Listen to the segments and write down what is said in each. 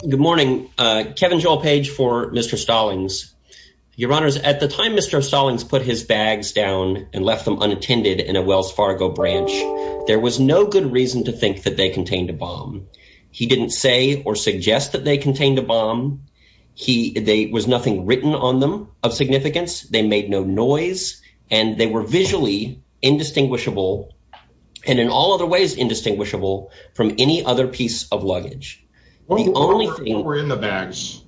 Good morning, Kevin Joel Page for Mr. Stallings. Your honors, at the time Mr. Stallings put his bags down and left them unattended in a Wells Fargo branch, there was no good reason to think that they contained a bomb. He didn't say or suggest that they contained a bomb. There was nothing written on them of significance. They made no noise and they were visually indistinguishable and in all other ways indistinguishable from any other piece of luggage. What were in the bags?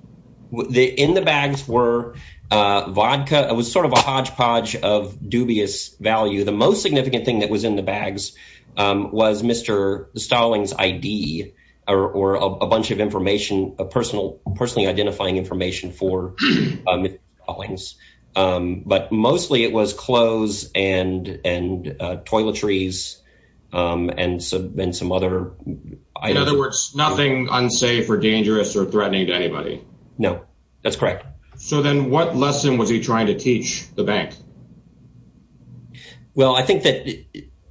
In the bags were vodka. It was sort of a hodgepodge of dubious value. The most significant thing that was in the bags was Mr. Stallings' ID or a bunch of information, personally identifying information for Mr. Stallings. But mostly it was clothes and toiletries and some other... In other words, nothing unsafe or dangerous or threatening to anybody? No, that's correct. So then what lesson was he trying to teach the bank? Well, I think that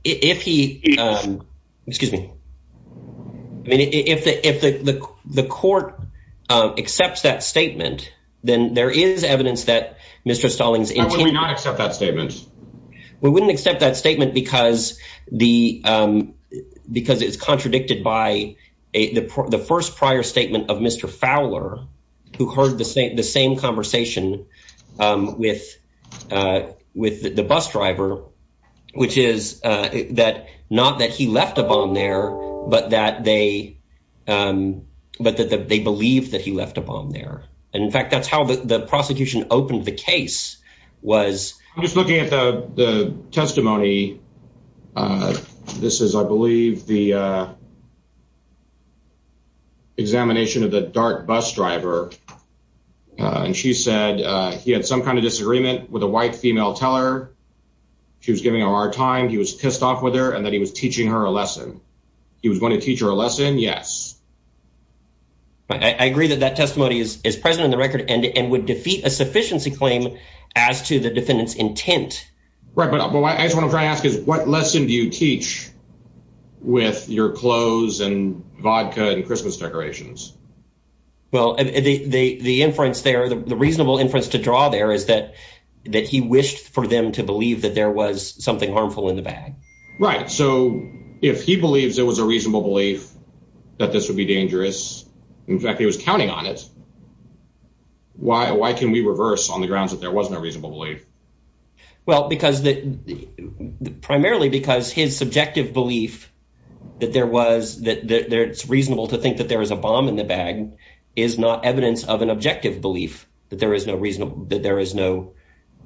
if he... Excuse me. I mean, if the court accepts that statement, then there is evidence that Mr. Stallings... Why would we not accept that statement? We wouldn't accept that statement because it's contradicted by the first prior statement of Mr. with the bus driver, which is that not that he left a bomb there, but that they believed that he left a bomb there. And in fact, that's how the prosecution opened the case was... I'm just looking at the testimony. This is, I believe, the examination of the dark bus driver. And she said he had some kind of disagreement with a white female teller. She was giving her a hard time. He was pissed off with her and that he was teaching her a lesson. He was going to teach her a lesson. Yes. I agree that that testimony is present in the record and would defeat a sufficiency claim as to the defendant's intent. Right. But I just want to try to ask is what lesson do you teach with your clothes and vodka and Christmas decorations? Well, the inference there, the reasonable inference to draw there is that that he wished for them to believe that there was something harmful in the bag. Right. So if he believes it was a reasonable belief that this would be dangerous, in fact, he was counting on it. Why? Why can we reverse on the grounds that there was no reasonable belief? Well, because that primarily because his subjective belief that there was that it's reasonable to think that there is a bomb in the bag is not evidence of an objective belief that there is no reason that there is no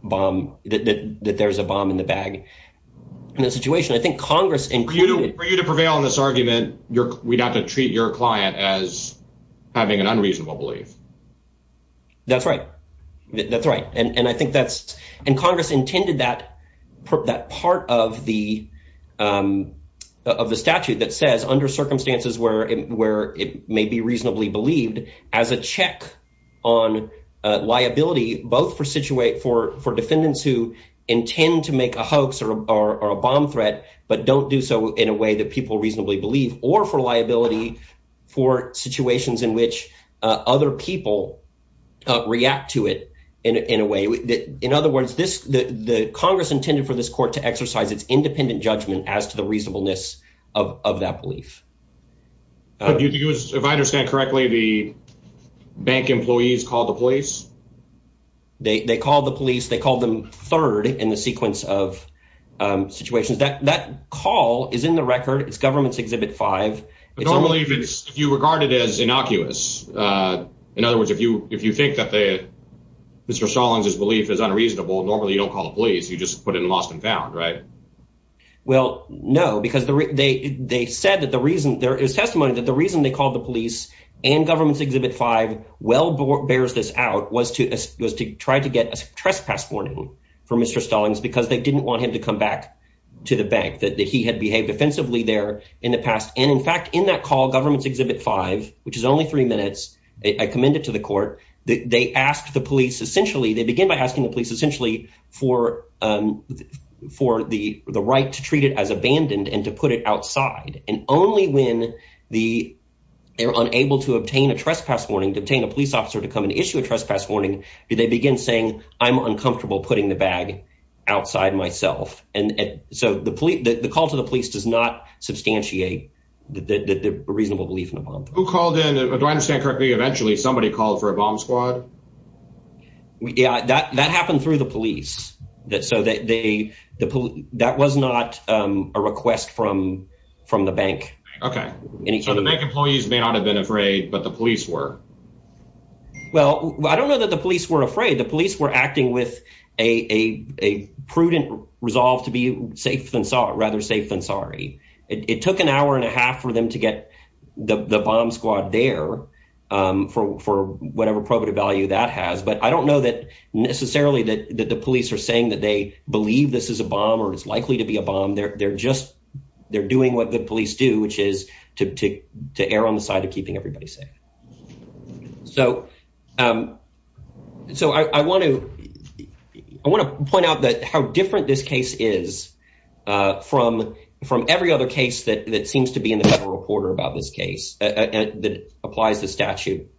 bomb, that there is a bomb in the bag. In that situation, I think Congress included. For you to prevail on this argument, we'd have to treat your client as having an unreasonable belief. That's right. That's right. And I think that's and Congress intended that that part of the of the statute that says under circumstances where it may be reasonably believed as a check on liability, both for situate for for defendants who intend to make a hoax or a bomb threat, but don't do so in a way that people reasonably believe or for liability, for situations in which other people react to it in a way that, in other words, this the Congress intended for this court to exercise its independent judgment as to the reasonableness of that belief. If I understand correctly, the bank employees called the police. They called the police, they called them third in the sequence of situations that that call is in the record. It's government's exhibit five. I don't believe it's if you regard it as innocuous. In other words, if you if you think that the Mr. Stallings, his belief is unreasonable, normally you don't call the police. You just put it in lost and found. Right. Well, no, because they they said that the reason there is testimony that the reason they called the police and government's exhibit five well bears this out was to was to try to get a trespass warning for Mr. Stallings because they didn't want him to come back to the bank that he had behaved offensively there in the past. And in fact, in that call, government's exhibit five, which is only three minutes, I commend it to the they asked the police essentially they begin by asking the police essentially for for the right to treat it as abandoned and to put it outside. And only when the they're unable to obtain a trespass warning, to obtain a police officer, to come and issue a trespass warning, do they begin saying, I'm uncomfortable putting the bag outside myself. And so the police, the call to the police does not substantiate the reasonable belief in the bomb who called in. Do I understand correctly? Eventually, somebody called for a bomb squad. Yeah, that that happened through the police that so that they the police that was not a request from from the bank. Okay. And so the bank employees may not have been afraid, but the police were. Well, I don't know that the police were afraid the police were acting with a prudent resolve to be safe than sorry, rather safe than for for whatever probative value that has. But I don't know that necessarily that the police are saying that they believe this is a bomb or is likely to be a bomb. They're just they're doing what the police do, which is to take to err on the side of keeping everybody safe. So so I want to I want to point out that how different this case is from from every other case that that seems to be in the Federal Reporter about this case that applies the statute,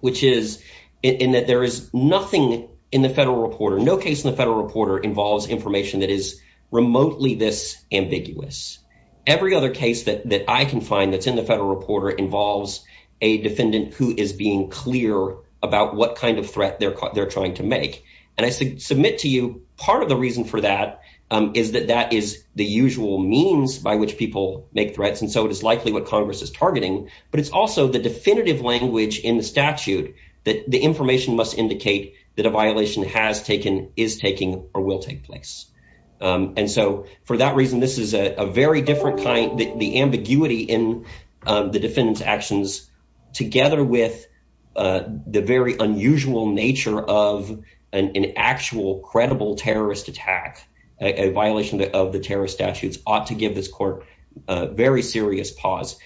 which is in that there is nothing in the Federal Reporter. No case in the Federal Reporter involves information that is remotely this ambiguous. Every other case that that I can find that's in the Federal Reporter involves a defendant who is being clear about what kind of threat they're they're trying to make. And I submit to you part of the reason for that is that that is the usual means by which people make threats. And so it is likely what Congress is targeting. But it's also the definitive language in the statute that the information must indicate that a violation has taken is taking or will take place. And so for that reason, this is a very different kind. The ambiguity in the defendant's actions, together with the very unusual nature of an actual credible terrorist attack, a violation of the terrorist statutes ought to give this court a very serious pause.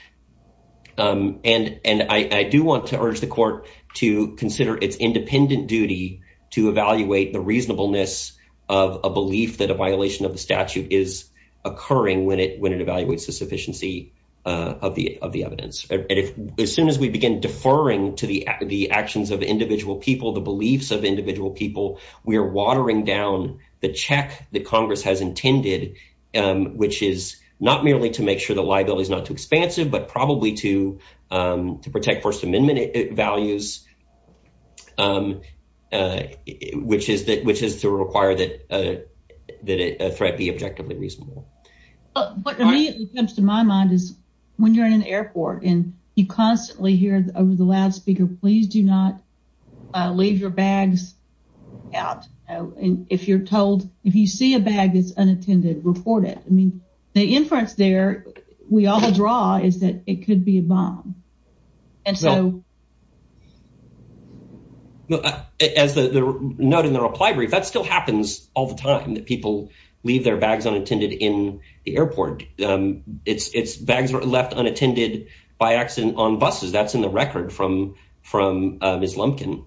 And and I do want to urge the court to consider its independent duty to evaluate the reasonableness of a belief that a violation of the statute is occurring when it when it evaluates the sufficiency of the of the evidence. And as soon as we begin deferring to the the actions of individual people, the beliefs of which is not merely to make sure the liability is not too expansive, but probably to to protect First Amendment values, which is that which is to require that that a threat be objectively reasonable. What immediately comes to my mind is when you're in an airport and you constantly hear over the loudspeaker, please do not leave your bags out. And if you're told if you see a bag that's unattended, report it. I mean, the inference there we all draw is that it could be a bomb. And so. As the note in the reply brief, that still happens all the time that people leave their bags unattended in the airport. It's it's bags left unattended by accident on buses. That's in record from from Ms. Lumpkin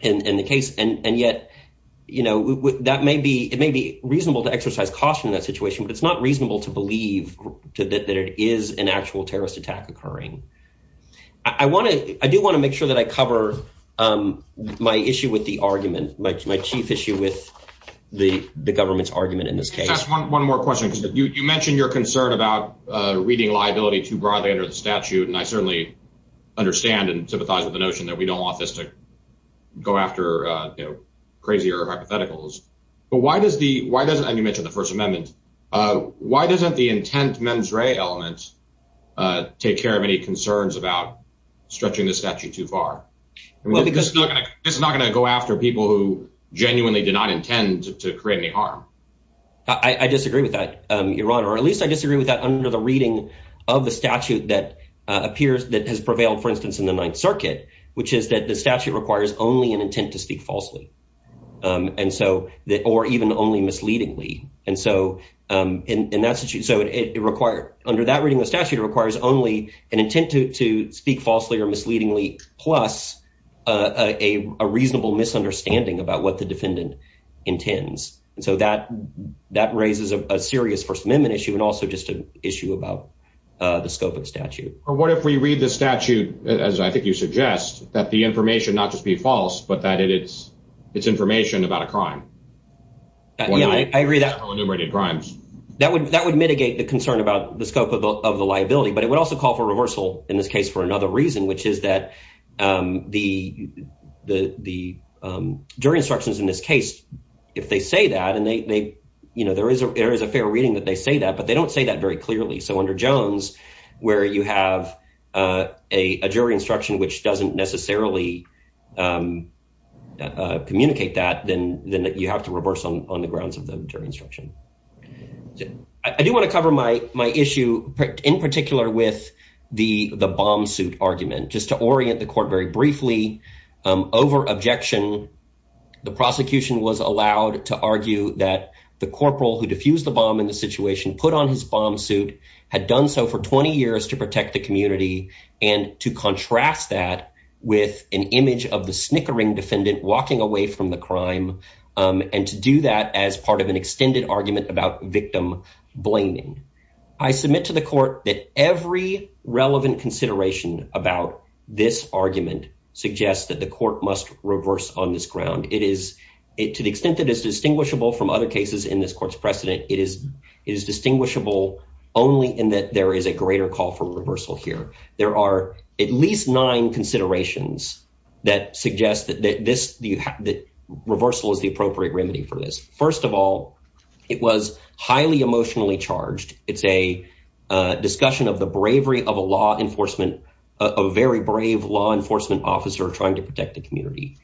in the case. And yet, you know, that may be it may be reasonable to exercise caution in that situation, but it's not reasonable to believe that it is an actual terrorist attack occurring. I want to I do want to make sure that I cover my issue with the argument, my chief issue with the government's argument in this case. One more question. You mentioned your concern about reading liability too broadly under the statute, and I certainly understand and sympathize with the notion that we don't want this to go after crazier hypotheticals. But why does the why does and you mentioned the First Amendment? Why doesn't the intent mens rea element take care of any concerns about stretching the statute too far? Well, because it's not going to go after people who genuinely did not intend to create any harm. I disagree with that, your honor, or at least I disagree with that under the reading of the statute that appears that has prevailed, for instance, in the Ninth Circuit, which is that the statute requires only an intent to speak falsely. And so that or even only misleadingly. And so in that situation, so it required under that reading, the statute requires only an intent to speak falsely or misleadingly, plus a reasonable misunderstanding about what the defendant intends. And so that that raises a serious First Amendment issue and also just an the scope of statute. Or what if we read the statute, as I think you suggest, that the information not just be false, but that it's it's information about a crime. Yeah, I agree that enumerated crimes that would that would mitigate the concern about the scope of the liability. But it would also call for reversal in this case for another reason, which is that the the jury instructions in this case, if they say that and they you know, there is there is a fair reading that they say that, but they don't say that very clearly. So under Jones, where you have a jury instruction, which doesn't necessarily communicate that, then then you have to reverse on the grounds of the jury instruction. I do want to cover my my issue in particular with the the bomb suit argument just to orient the court very briefly over objection. The prosecution was allowed to argue that the had done so for 20 years to protect the community and to contrast that with an image of the snickering defendant walking away from the crime and to do that as part of an extended argument about victim blaming. I submit to the court that every relevant consideration about this argument suggests that the court must reverse on this ground. It is it to the extent that is distinguishable only in that there is a greater call for reversal here. There are at least nine considerations that suggest that this that reversal is the appropriate remedy for this. First of all, it was highly emotionally charged. It's a discussion of the bravery of a law enforcement, a very brave law enforcement officer trying to protect the community.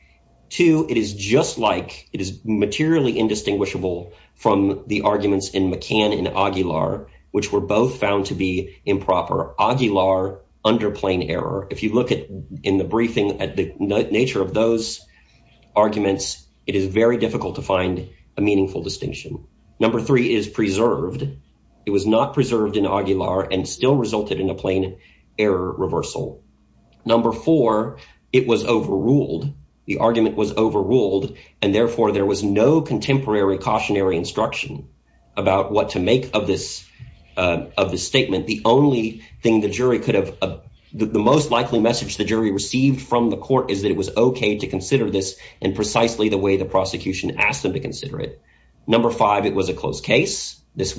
Two, it is just like it is materially indistinguishable from the arguments in McCann and Aguilar, which were both found to be improper. Aguilar under plain error. If you look at in the briefing at the nature of those arguments, it is very difficult to find a meaningful distinction. Number three is preserved. It was not preserved in Aguilar and still resulted in a plain error reversal. Number four, it was overruled. The argument was overruled and therefore there was no contemporary cautionary instruction about what to make of this of this statement. The only thing the jury could have the most likely message the jury received from the court is that it was okay to consider this and precisely the way the prosecution asked them to consider it. Number five, it was a closed case. This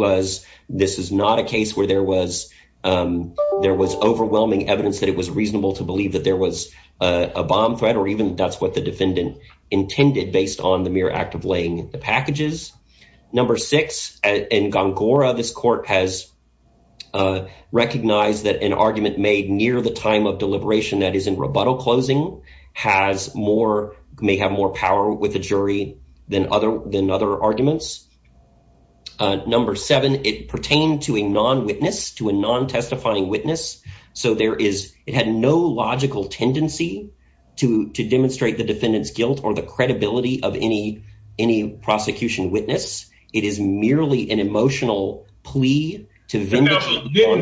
is not a case where there was overwhelming evidence that it was reasonable to believe that there was a bomb threat or even that's what the defendant intended based on the mere act of laying the packages. Number six, in Gongora, this court has recognized that an argument made near the time of deliberation that is in rebuttal closing has more may have more power with the jury than other than other arguments. Number seven, it pertained to a non witness to a non testifying witness. So there is it had no logical tendency to demonstrate the defendant's guilt or the credibility of any prosecution witness. It is merely an emotional plea to the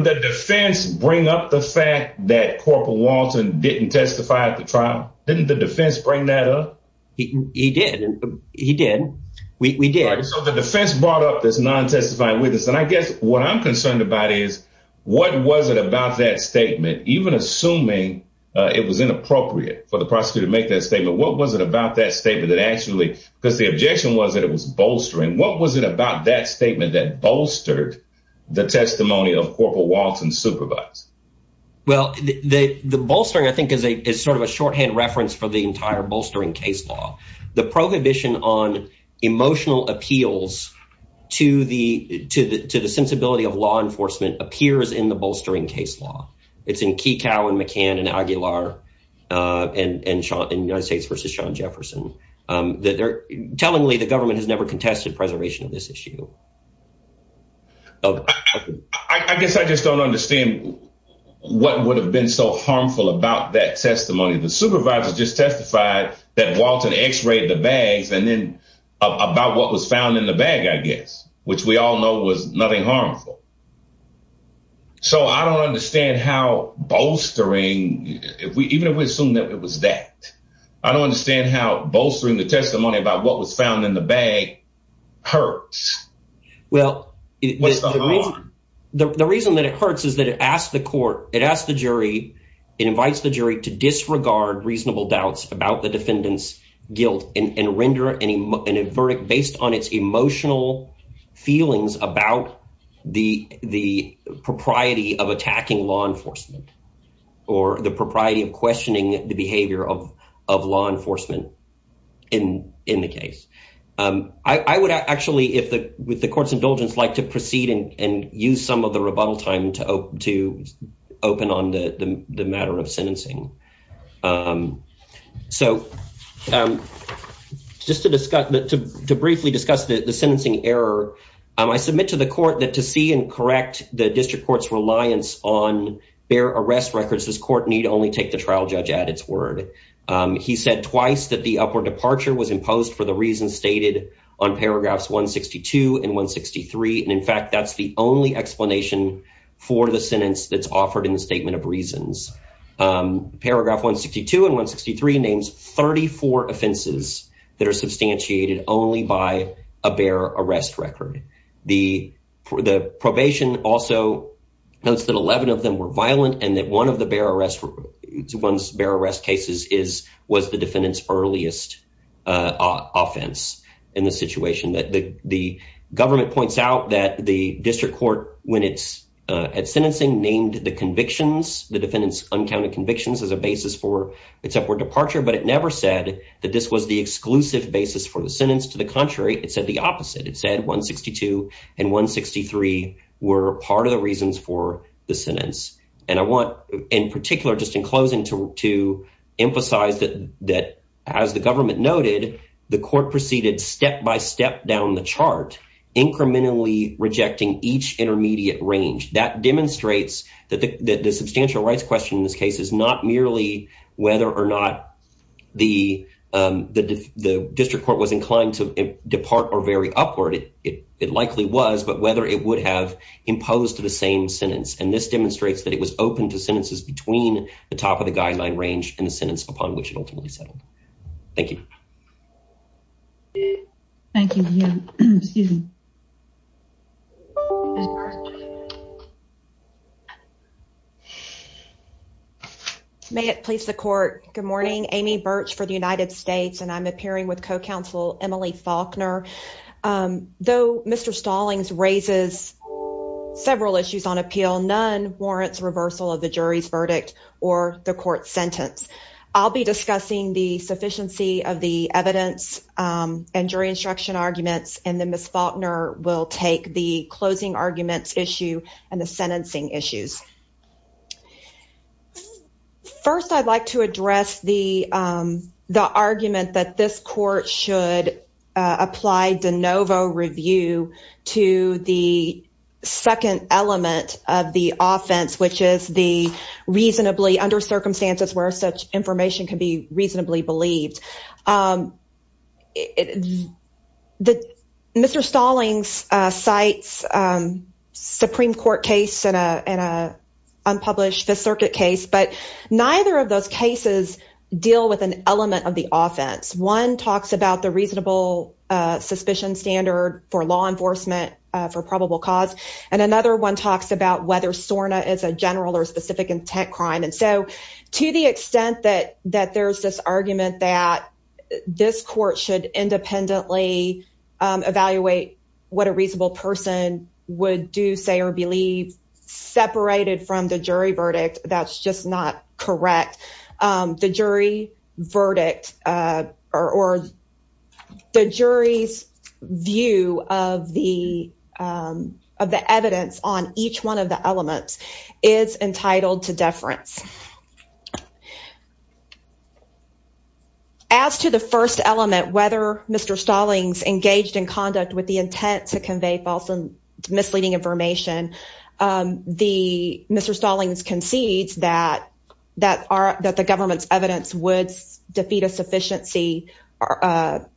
defense. Bring up the fact that Corporal Walton didn't testify at the trial. Didn't the defense bring that up? He did. He did. We did. So the defense brought up this non testifying witness. And I guess what I'm concerned about is what was it about that statement, even assuming it was inappropriate for the prosecutor to make that statement? What was it about that statement that actually because the objection was that it was bolstering? What was it about that statement that bolstered the testimony of Corporal Walton supervised? Well, the bolstering, I think, is a is sort of a shorthand reference for the entire bolstering case law. The prohibition on emotional appeals to the to the to the sensibility of law enforcement appears in the bolstering case law. It's in Kikau and McCann and Aguilar and in the United States versus Sean Jefferson. Tellingly, the government has never contested preservation of this issue. I guess I just don't understand what would have been so harmful about that testimony. The supervisor just testified that Walton X-rayed the bags and then about what was found in the bag, I guess, which we all know was nothing harmful. So I don't understand how bolstering if we even if we assume that it was that I don't understand how bolstering the testimony about what was found in the bag hurts. Well, the reason that it hurts is that it asked the court, it asked the jury, it invites the jury to disregard reasonable doubts about the defendant's guilt and render any verdict based on its emotional feelings about the the propriety of attacking law enforcement or the propriety of questioning the behavior of of law enforcement in in the case. I would actually, if the with the court's indulgence, like to proceed and use some of the rebuttal time to to open on the the matter of sentencing. So just to discuss that, to briefly discuss the sentencing error, I submit to the court that to see and correct the district court's reliance on bare arrest records, this court need only take the trial judge at its word. He said twice that the upward departure was imposed for the reasons stated on paragraphs 162 and 163. And in fact, that's the only explanation for the sentence that's offered in the statement of reasons. Paragraph 162 and 163 names 34 offenses that are substantiated only by a bare arrest record. The the probation also notes that 11 of the 162 were violent and that one of the bare arrest ones, bare arrest cases is was the defendant's earliest offense in the situation that the government points out that the district court, when it's at sentencing, named the convictions, the defendant's uncounted convictions as a basis for its upward departure. But it never said that this was the exclusive basis for the sentence. To the and I want in particular, just in closing to to emphasize that that as the government noted, the court proceeded step by step down the chart, incrementally rejecting each intermediate range that demonstrates that the substantial rights question in this case is not merely whether or not the the district court was inclined to depart or very upward. It likely was, but whether it would have imposed the same sentence. And this demonstrates that it was open to sentences between the top of the guideline range and the sentence upon which it ultimately settled. Thank you. Thank you. Excuse me. May it please the court. Good morning. Amy Birch for the United States and I'm appearing with counsel Emily Faulkner. Though Mr. Stallings raises several issues on appeal, none warrants reversal of the jury's verdict or the court sentence. I'll be discussing the sufficiency of the evidence and jury instruction arguments and then Ms. Faulkner will take the closing arguments issue and the sentencing issues. First, I'd like to address the the argument that this court should apply de novo review to the second element of the offense, which is the reasonably under circumstances where such information can be reasonably believed. Mr. Stallings cites Supreme Court case and an unpublished Fifth Circuit case, but neither of those cases deal with an element of the offense. One talks about the reasonable suspicion standard for law enforcement for probable cause, and another one talks about whether SORNA is a general or specific intent crime. And so to the extent that that there's this argument that this court should independently evaluate what a reasonable person would do, say, or believe separated from the jury verdict, that's just not correct. The jury verdict or the jury's view of the evidence on each one of the elements is entitled to deference. As to the first element, whether Mr. Stallings engaged in conduct with the intent to convey false and misleading information, Mr. Stallings concedes that the government's evidence would defeat a sufficiency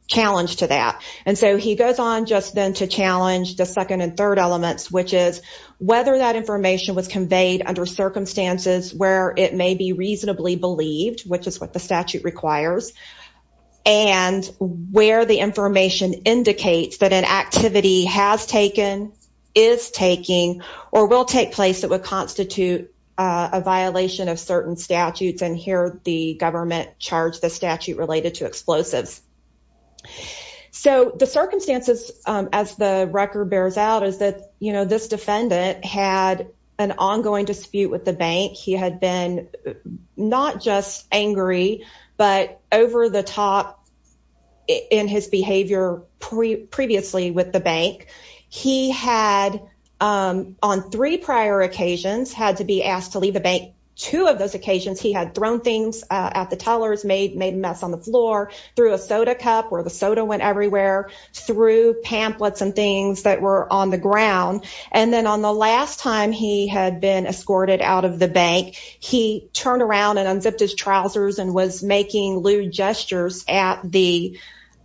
challenge to that. And so he goes on just then to challenge the second and third elements, which is whether that information was conveyed under circumstances where it may be reasonably believed, which is what the statute requires, and where the information indicates that an activity has taken, is taking, or will take place that would constitute a violation of certain statutes. And here the government charged the statute related to explosives. So the circumstances, as the record bears out, is that, you know, this defendant had an ongoing dispute with the bank. He had been not just angry, but over the top in his behavior previously with the bank. He had, on three prior occasions, had to be asked to leave the bank. Two of those occasions he had thrown things at the tellers, made a mess on the floor, threw a soda cup where the soda went everywhere, threw pamphlets and things that were on the ground. And then on the last time he had been escorted out of the bank, he turned around and unzipped his trousers and was making lewd gestures at the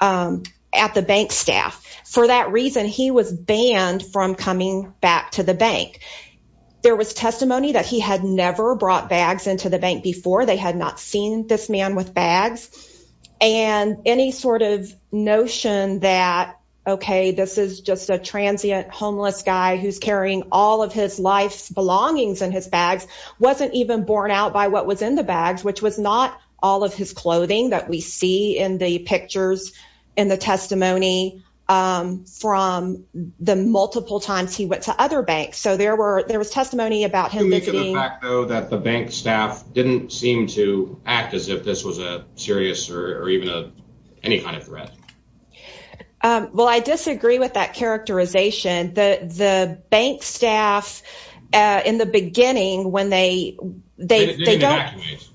bank staff. For that reason, he was banned from coming back to the bank. There was testimony that he had never brought bags into the bank before. They had not seen this man with bags. And any sort of notion that, okay, this is just a transient homeless guy who's all of his life's belongings in his bags wasn't even borne out by what was in the bags, which was not all of his clothing that we see in the pictures, in the testimony from the multiple times he went to other banks. So there were there was testimony about him that the bank staff didn't seem to act as if this was a serious or even any kind of threat. Well, I disagree with that characterization. The bank staff, in the beginning, when they didn't evacuate,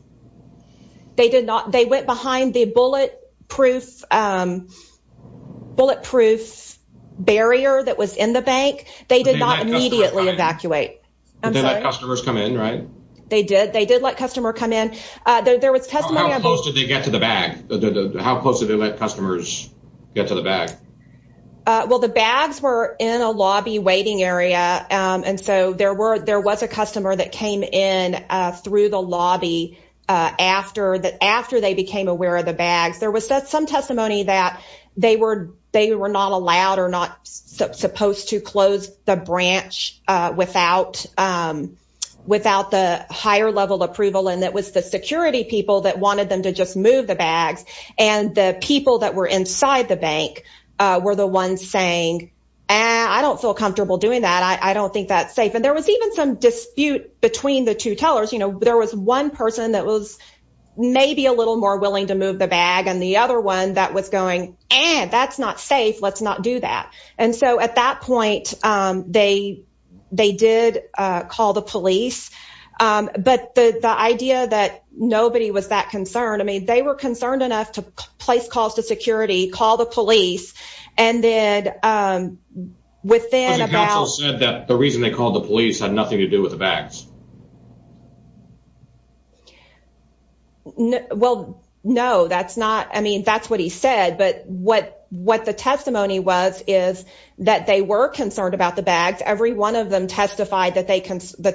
they went behind the bulletproof barrier that was in the bank. They did not immediately evacuate. They let customers come in, right? They did. They did let customers come in. How close did they get to the bag? How close did they let customers get to the bag? Well, the bags were in a lobby waiting area. And so there was a customer that came in through the lobby after they became aware of the bags. There was some testimony that they were not allowed or not supposed to close the branch without the higher level approval. And it was the security people that wanted them to just move the bags. And the people that were inside the bank were the ones saying, I don't feel comfortable doing that. I don't think that's safe. And there was even some dispute between the two tellers. There was one person that was maybe a little more willing to move the bag and the other one that was going, that's not safe. Let's not do that. And so at that point, they did call the police. But the idea that nobody was that concerned, I mean, they were concerned enough to place calls to security, call the police. And then within about- But the council said that the reason they called the police had nothing to do with the bags. Well, no, that's not, I mean, that's what he said. But what the testimony was is that they were concerned about the bags. Every one of them testified that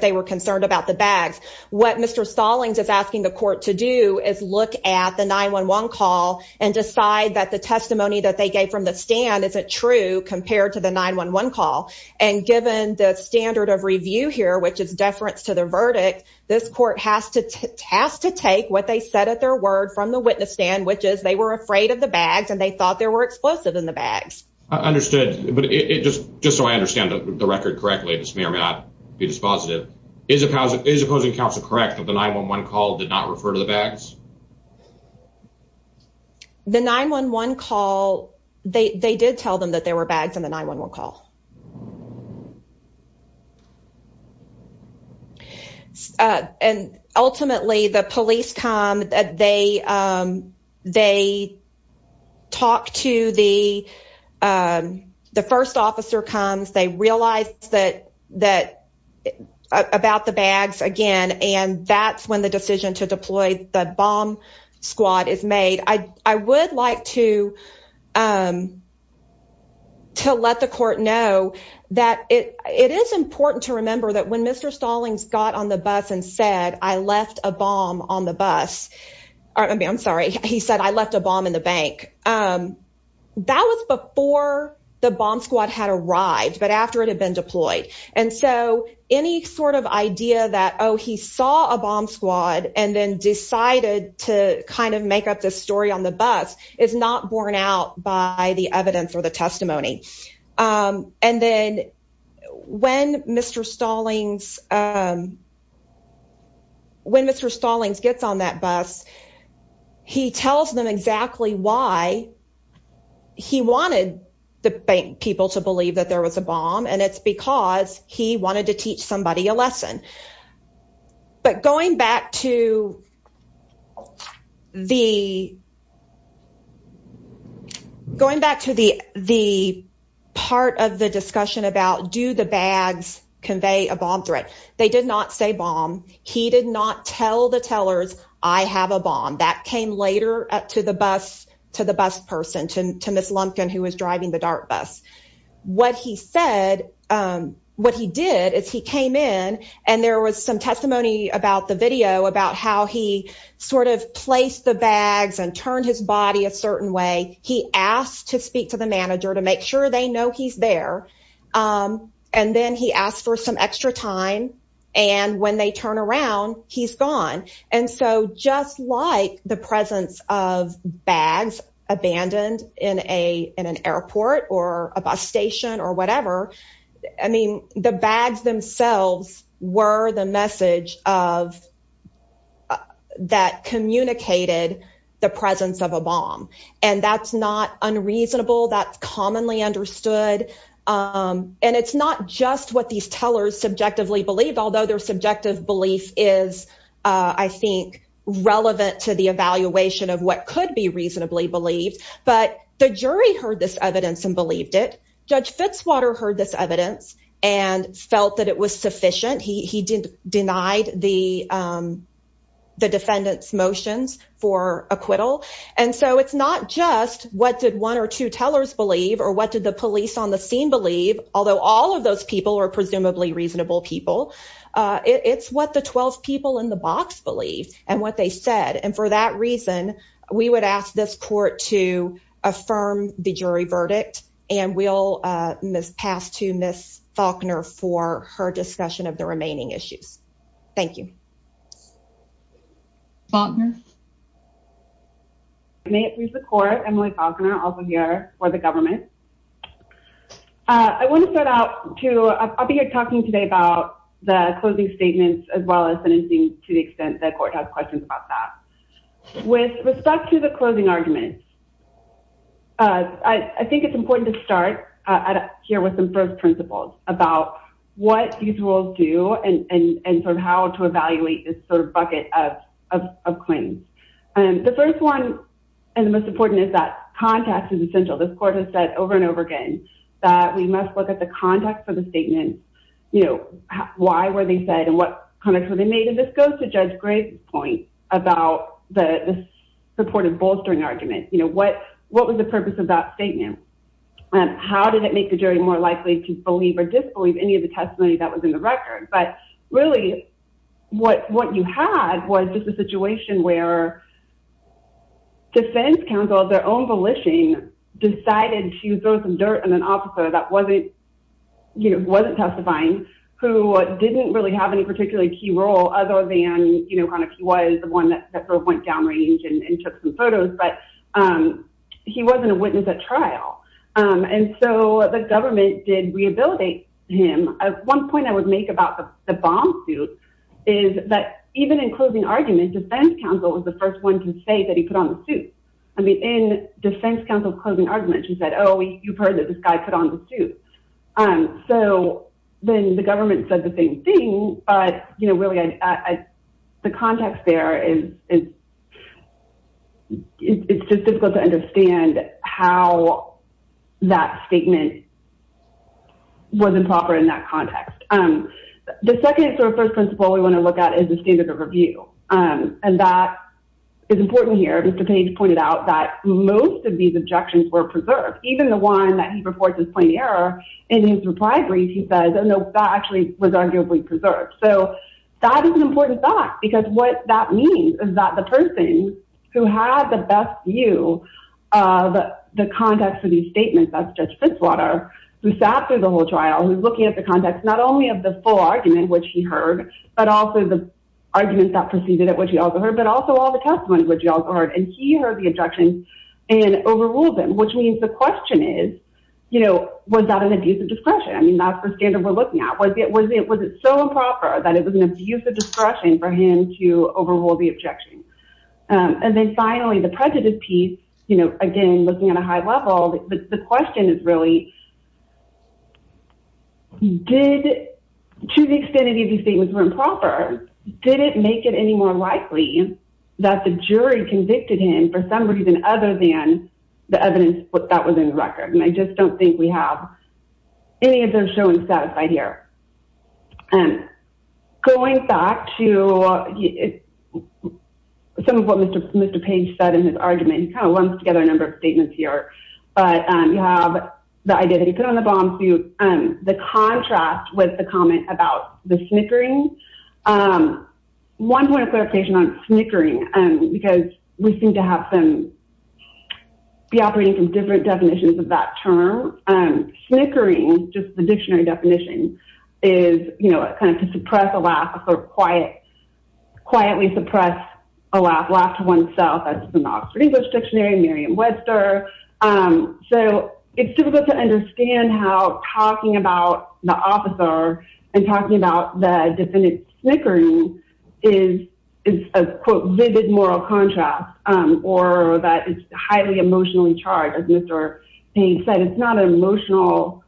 they were concerned about the bags. What Mr. Stallings is asking the court to do is look at the 9-1-1 call and decide that the testimony that they gave from the stand isn't true compared to the 9-1-1 call. And given the standard of review here, which is deference to the verdict, this court has to take what they said at their word from the witness stand, which is they were afraid of the bags and they thought there were Just so I understand the record correctly, if this may or may not be dispositive, is opposing counsel correct that the 9-1-1 call did not refer to the bags? The 9-1-1 call, they did tell them that there were bags in the 9-1-1 call. And ultimately, the police come, they talk to the, the first officer comes, they realize that about the bags again, and that's when the decision to deploy the bomb squad is made. I would like to say to let the court know that it is important to remember that when Mr. Stallings got on the bus and said, I left a bomb on the bus, I'm sorry, he said, I left a bomb in the bank. That was before the bomb squad had arrived, but after it had been deployed. And so any sort of idea that, oh, he saw a bomb squad and then decided to kind of make up this story on the bus is not borne out by the evidence or the testimony. And then when Mr. Stallings, when Mr. Stallings gets on that bus, he tells them exactly why he wanted the bank people to believe that there was a bomb and it's because he wanted to teach somebody a lesson. But going back to the, going back to the, the part of the discussion about do the bags convey a bomb threat? They did not say bomb. He did not tell the tellers, I have a bomb. That came later to the bus, to the bus person, to Ms. Lumpkin, who was driving the DART bus. What he said, what he did is he came in and there was some testimony about the video about how he sort of placed the bags and turned his body a certain way. He asked to speak to the manager to make sure they know he's there. And then he asked for some extra time and when they turn around, he's gone. And so just like the presence of bags abandoned in a, in an airport or a bus station or whatever, I mean, the bags themselves were the message of, that communicated the presence of a bomb. And that's not unreasonable. That's commonly understood. And it's not just what these tellers subjectively believe, although their subjective belief is, I think, relevant to the evaluation of what could be reasonably believed. But the jury heard this evidence and believed it. Judge Fitzwater heard this evidence and felt that it was sufficient. He didn't deny the defendant's motions for acquittal. And so it's not just what did one or two tellers believe, or what did the police on the scene believe, although all of those people are presumably reasonable people. It's what the 12 people in the box believed and what they said. And for that pass to Ms. Faulkner for her discussion of the remaining issues. Thank you. Faulkner. May it please the court, Emily Faulkner, also here for the government. I want to start out to, I'll be here talking today about the closing statements as well as sentencing to the extent that court has questions about that. With respect to the closing statements, it's important to start here with some first principles about what these rules do and sort of how to evaluate this sort of bucket of claims. The first one, and the most important is that context is essential. This court has said over and over again that we must look at the context of the statement. Why were they said and what context were they made? And this goes to Judge Gray's point about the supportive bolstering argument. What was the purpose of that statement? How did it make the jury more likely to believe or disbelieve any of the testimony that was in the record? But really what you had was just a situation where defense counsel, their own volition, decided to throw some dirt on an officer that wasn't testifying, who didn't really have any particularly key role other than kind of he was the one that went down range and took some photos, but he wasn't a witness at trial. And so the government did rehabilitate him. One point I would make about the bomb suit is that even in closing argument, defense counsel was the first one to say that he put on the suit. I mean, in defense counsel's closing argument, she said, oh, you've heard that this guy put on the suit. So then the government said the same thing, but really the context there is it's just difficult to understand how that statement was improper in that context. The second sort of first principle we want to look at is the standard of review. And that is important here. Mr. Page pointed out that most of these objections were preserved. Even the one that he reports as plain error in his reply brief, he says, that actually was arguably preserved. So that is an important fact, because what that means is that the person who had the best view of the context for these statements, that's Judge Fritzwater, who sat through the whole trial, who's looking at the context, not only of the full argument, which he heard, but also the arguments that proceeded at which he also heard, but also all the testimony which he also heard. And he heard the objections and overruled them, which means the question is, you know, was that an abuse of discretion? I mean, that's the standard we're looking at. Was it so improper that it was an abuse of discretion for him to overrule the objection? And then finally, the prejudice piece, you know, again, looking at a high level, the question is really, to the extent that these statements were improper, did it make it any more likely that the jury convicted him for some reason other than the evidence that was in the record? And I just don't think we have any of those shown satisfied here. Going back to some of what Mr. Page said in his argument, he kind of lumps together a number of statements here, but you have the idea that he put on the bomb suit, the contrast with the comment about the snickering. One point of clarification on snickering, because we seem to have some, be operating from different definitions of that term. Snickering, just the dictionary definition, is, you know, kind of to suppress a laugh or quietly suppress a laugh, laugh to oneself. That's in the Oxford English Dictionary, Merriam-Webster. So it's difficult to understand how talking about the officer and talking about defendant snickering is a, quote, vivid moral contrast, or that it's highly emotionally charged. As Mr. Page said, it's not an emotional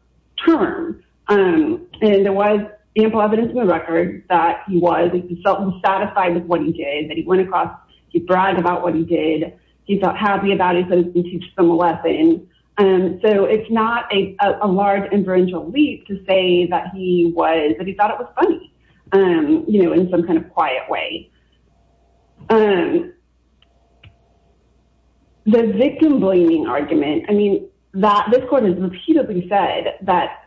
term. And there was ample evidence in the record that he was, he was satisfied with what he did, that he went across, he bragged about what he did, he felt happy about it, he said he could teach them a lesson. So it's not a large, inferential leap to say that he was, that he thought it was funny, you know, in some kind of quiet way. The victim-blaming argument, I mean, that this court has repeatedly said that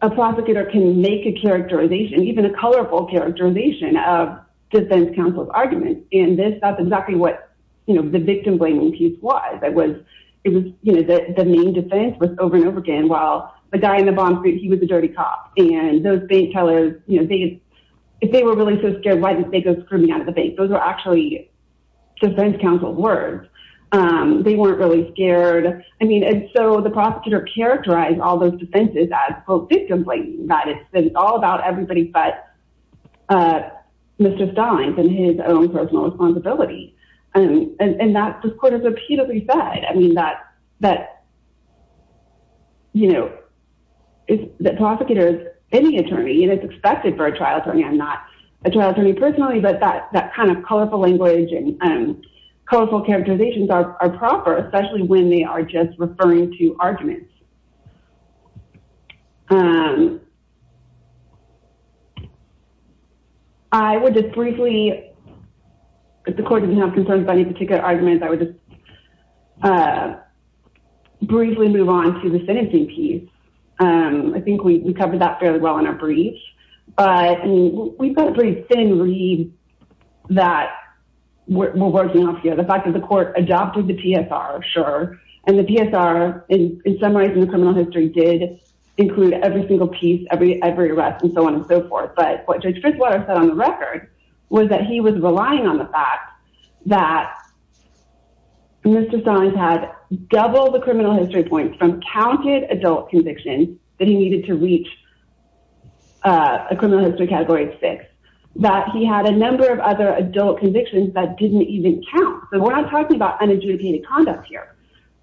a prosecutor can make a characterization, even a colorful characterization, of defense counsel's arguments. And this, that's exactly what, you know, the victim-blaming piece was. It was, you know, the main defense was over and over again, well, the guy in the bomb street, he was a dirty cop. And those bank tellers, you know, if they were really so scared, why did they go screaming out of the bank? Those were actually defense counsel's words. They weren't really scared. I mean, and so the prosecutor characterized all those defenses as, quote, victim-blaming, that it's all about everybody but Mr. Stines and his own personal responsibility. And that, this court has repeatedly said, I mean, that, you know, the prosecutor is any attorney and it's expected for a trial attorney. I'm not a trial attorney personally, but that kind of colorful language and colorful characterizations are proper, especially when they are just referring to arguments. I would just briefly, if the court doesn't have concerns about any particular arguments, I would just briefly move on to the sentencing piece. I think we covered that fairly well in our brief, but we've got a pretty thin read that we're working off here. The fact that the court adopted the PSR, sure, and the PSR in summarizing the criminal history did include every single piece, every arrest and so on and so forth. But what Judge Fitzwater said on the record was that he was relying on the fact that Mr. Stines had double the criminal history points from counted adult convictions that he needed to reach a criminal history category of six, that he had a number of other adult convictions that didn't even count. So we're not talking about unadjudicated conduct here.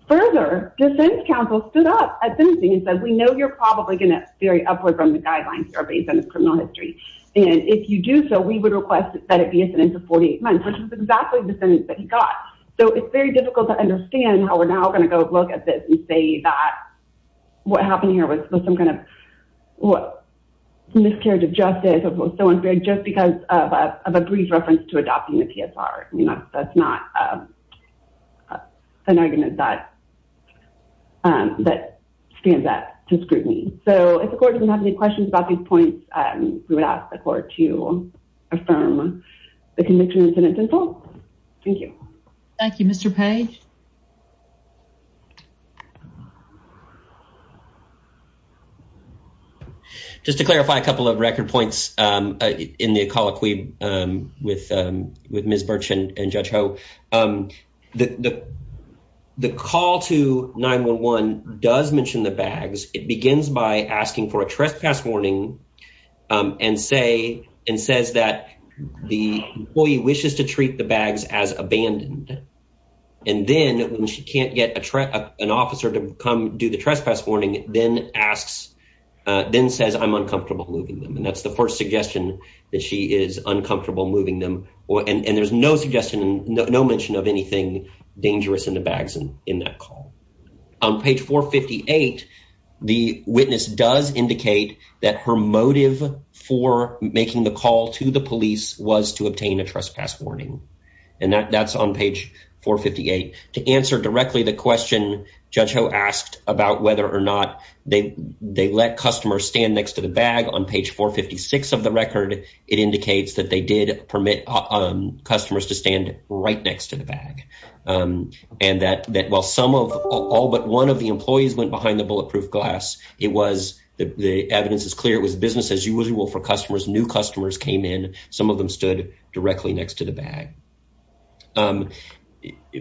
Further, defense counsel stood up at sentencing and said, we know you're probably going to vary upward from the guidelines that are based on this criminal history. And if you do so, we would request that it be a sentence of 48 months, which was exactly the sentence that he got. So it's very difficult to understand how we're now going to go look at this and say that what happened here was some kind of miscarriage of justice or was so unfair just because of a brief reference to adopting the PSR. That's not an argument that stands up to scrutiny. So if the court doesn't have any questions about these points, we would ask the court to affirm the conviction and sentence in full. Thank you. Thank you, Mr. Page. Just to clarify a couple of record points in the colloquy with Ms. Birch and Judge Ho. The call to 911 does mention the bags. It begins by asking for a trespass warning and says that the employee wishes to treat the bags as abandoned. And then when she can't get an officer to come do the trespass warning, then says, I'm uncomfortable moving them. And that's the first suggestion that she is uncomfortable moving them. And there's no suggestion, no mention of anything dangerous in the bags in that call. On page 458, the witness does indicate that her motive for making the call to the police was to obtain a trespass warning. And that's on page 458. To answer directly the question Judge Ho asked about whether or not they let customers stand next to the bag on page 456 of the record, it indicates that they did permit customers to stand right next to the bag. And that while some of all but one of the employees went behind the bulletproof glass, it was, the evidence is clear, it was business as usual for customers. New customers came in. Some of them stood directly next to the bag.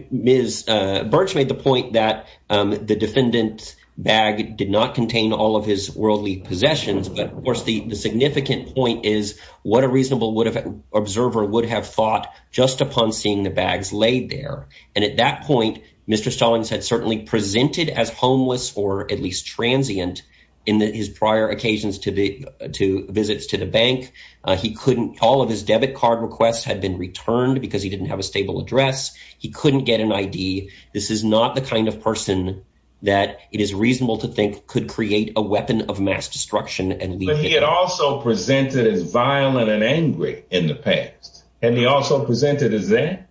Ms. Birch made the point that the defendant's bag did not contain all of his worldly possessions. But of course, the significant point is what a reasonable observer would have thought just upon seeing the bags laid there. And at that point, Mr. Stallings had certainly presented as homeless or at least transient in his prior occasions to visits to the bank. He couldn't, all of his debit card requests had been returned because he didn't have a stable address. He couldn't get an ID. This is not the kind of person that it is reasonable to think could create a weapon of mass destruction. And he had also presented as violent and angry in the past. And he also presented as that.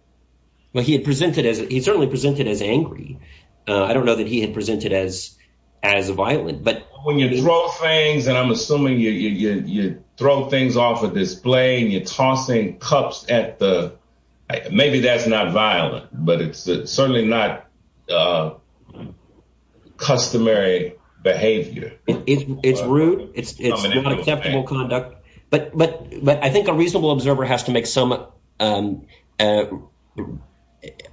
Well, he had presented as he certainly presented as angry. I don't know that he had presented as, as violent, but when you throw things, and I'm assuming you throw things off a display and you're tossing cups at the, maybe that's not violent, but it's certainly not customary behavior. It's rude. It's not acceptable conduct. But, but, but I think a reasonable observer has to make some, um, uh,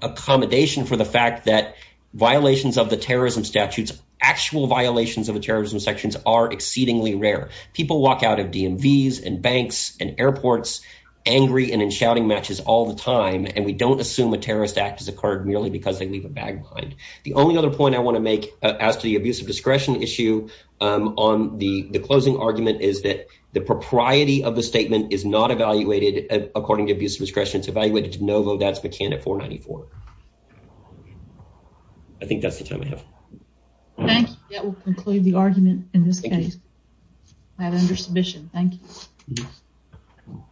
accommodation for the fact that violations of the terrorism statutes, actual violations of the terrorism sections are exceedingly rare. People walk out of DMVs and banks and airports angry and in shouting matches all the time. And we don't assume a point I want to make as to the abuse of discretion issue, um, on the closing argument is that the propriety of the statement is not evaluated according to abuse of discretion. It's evaluated to no vote. That's McCann at 494. I think that's the time I have. Thank you. That will conclude the argument in this case. I have under submission. Thank you.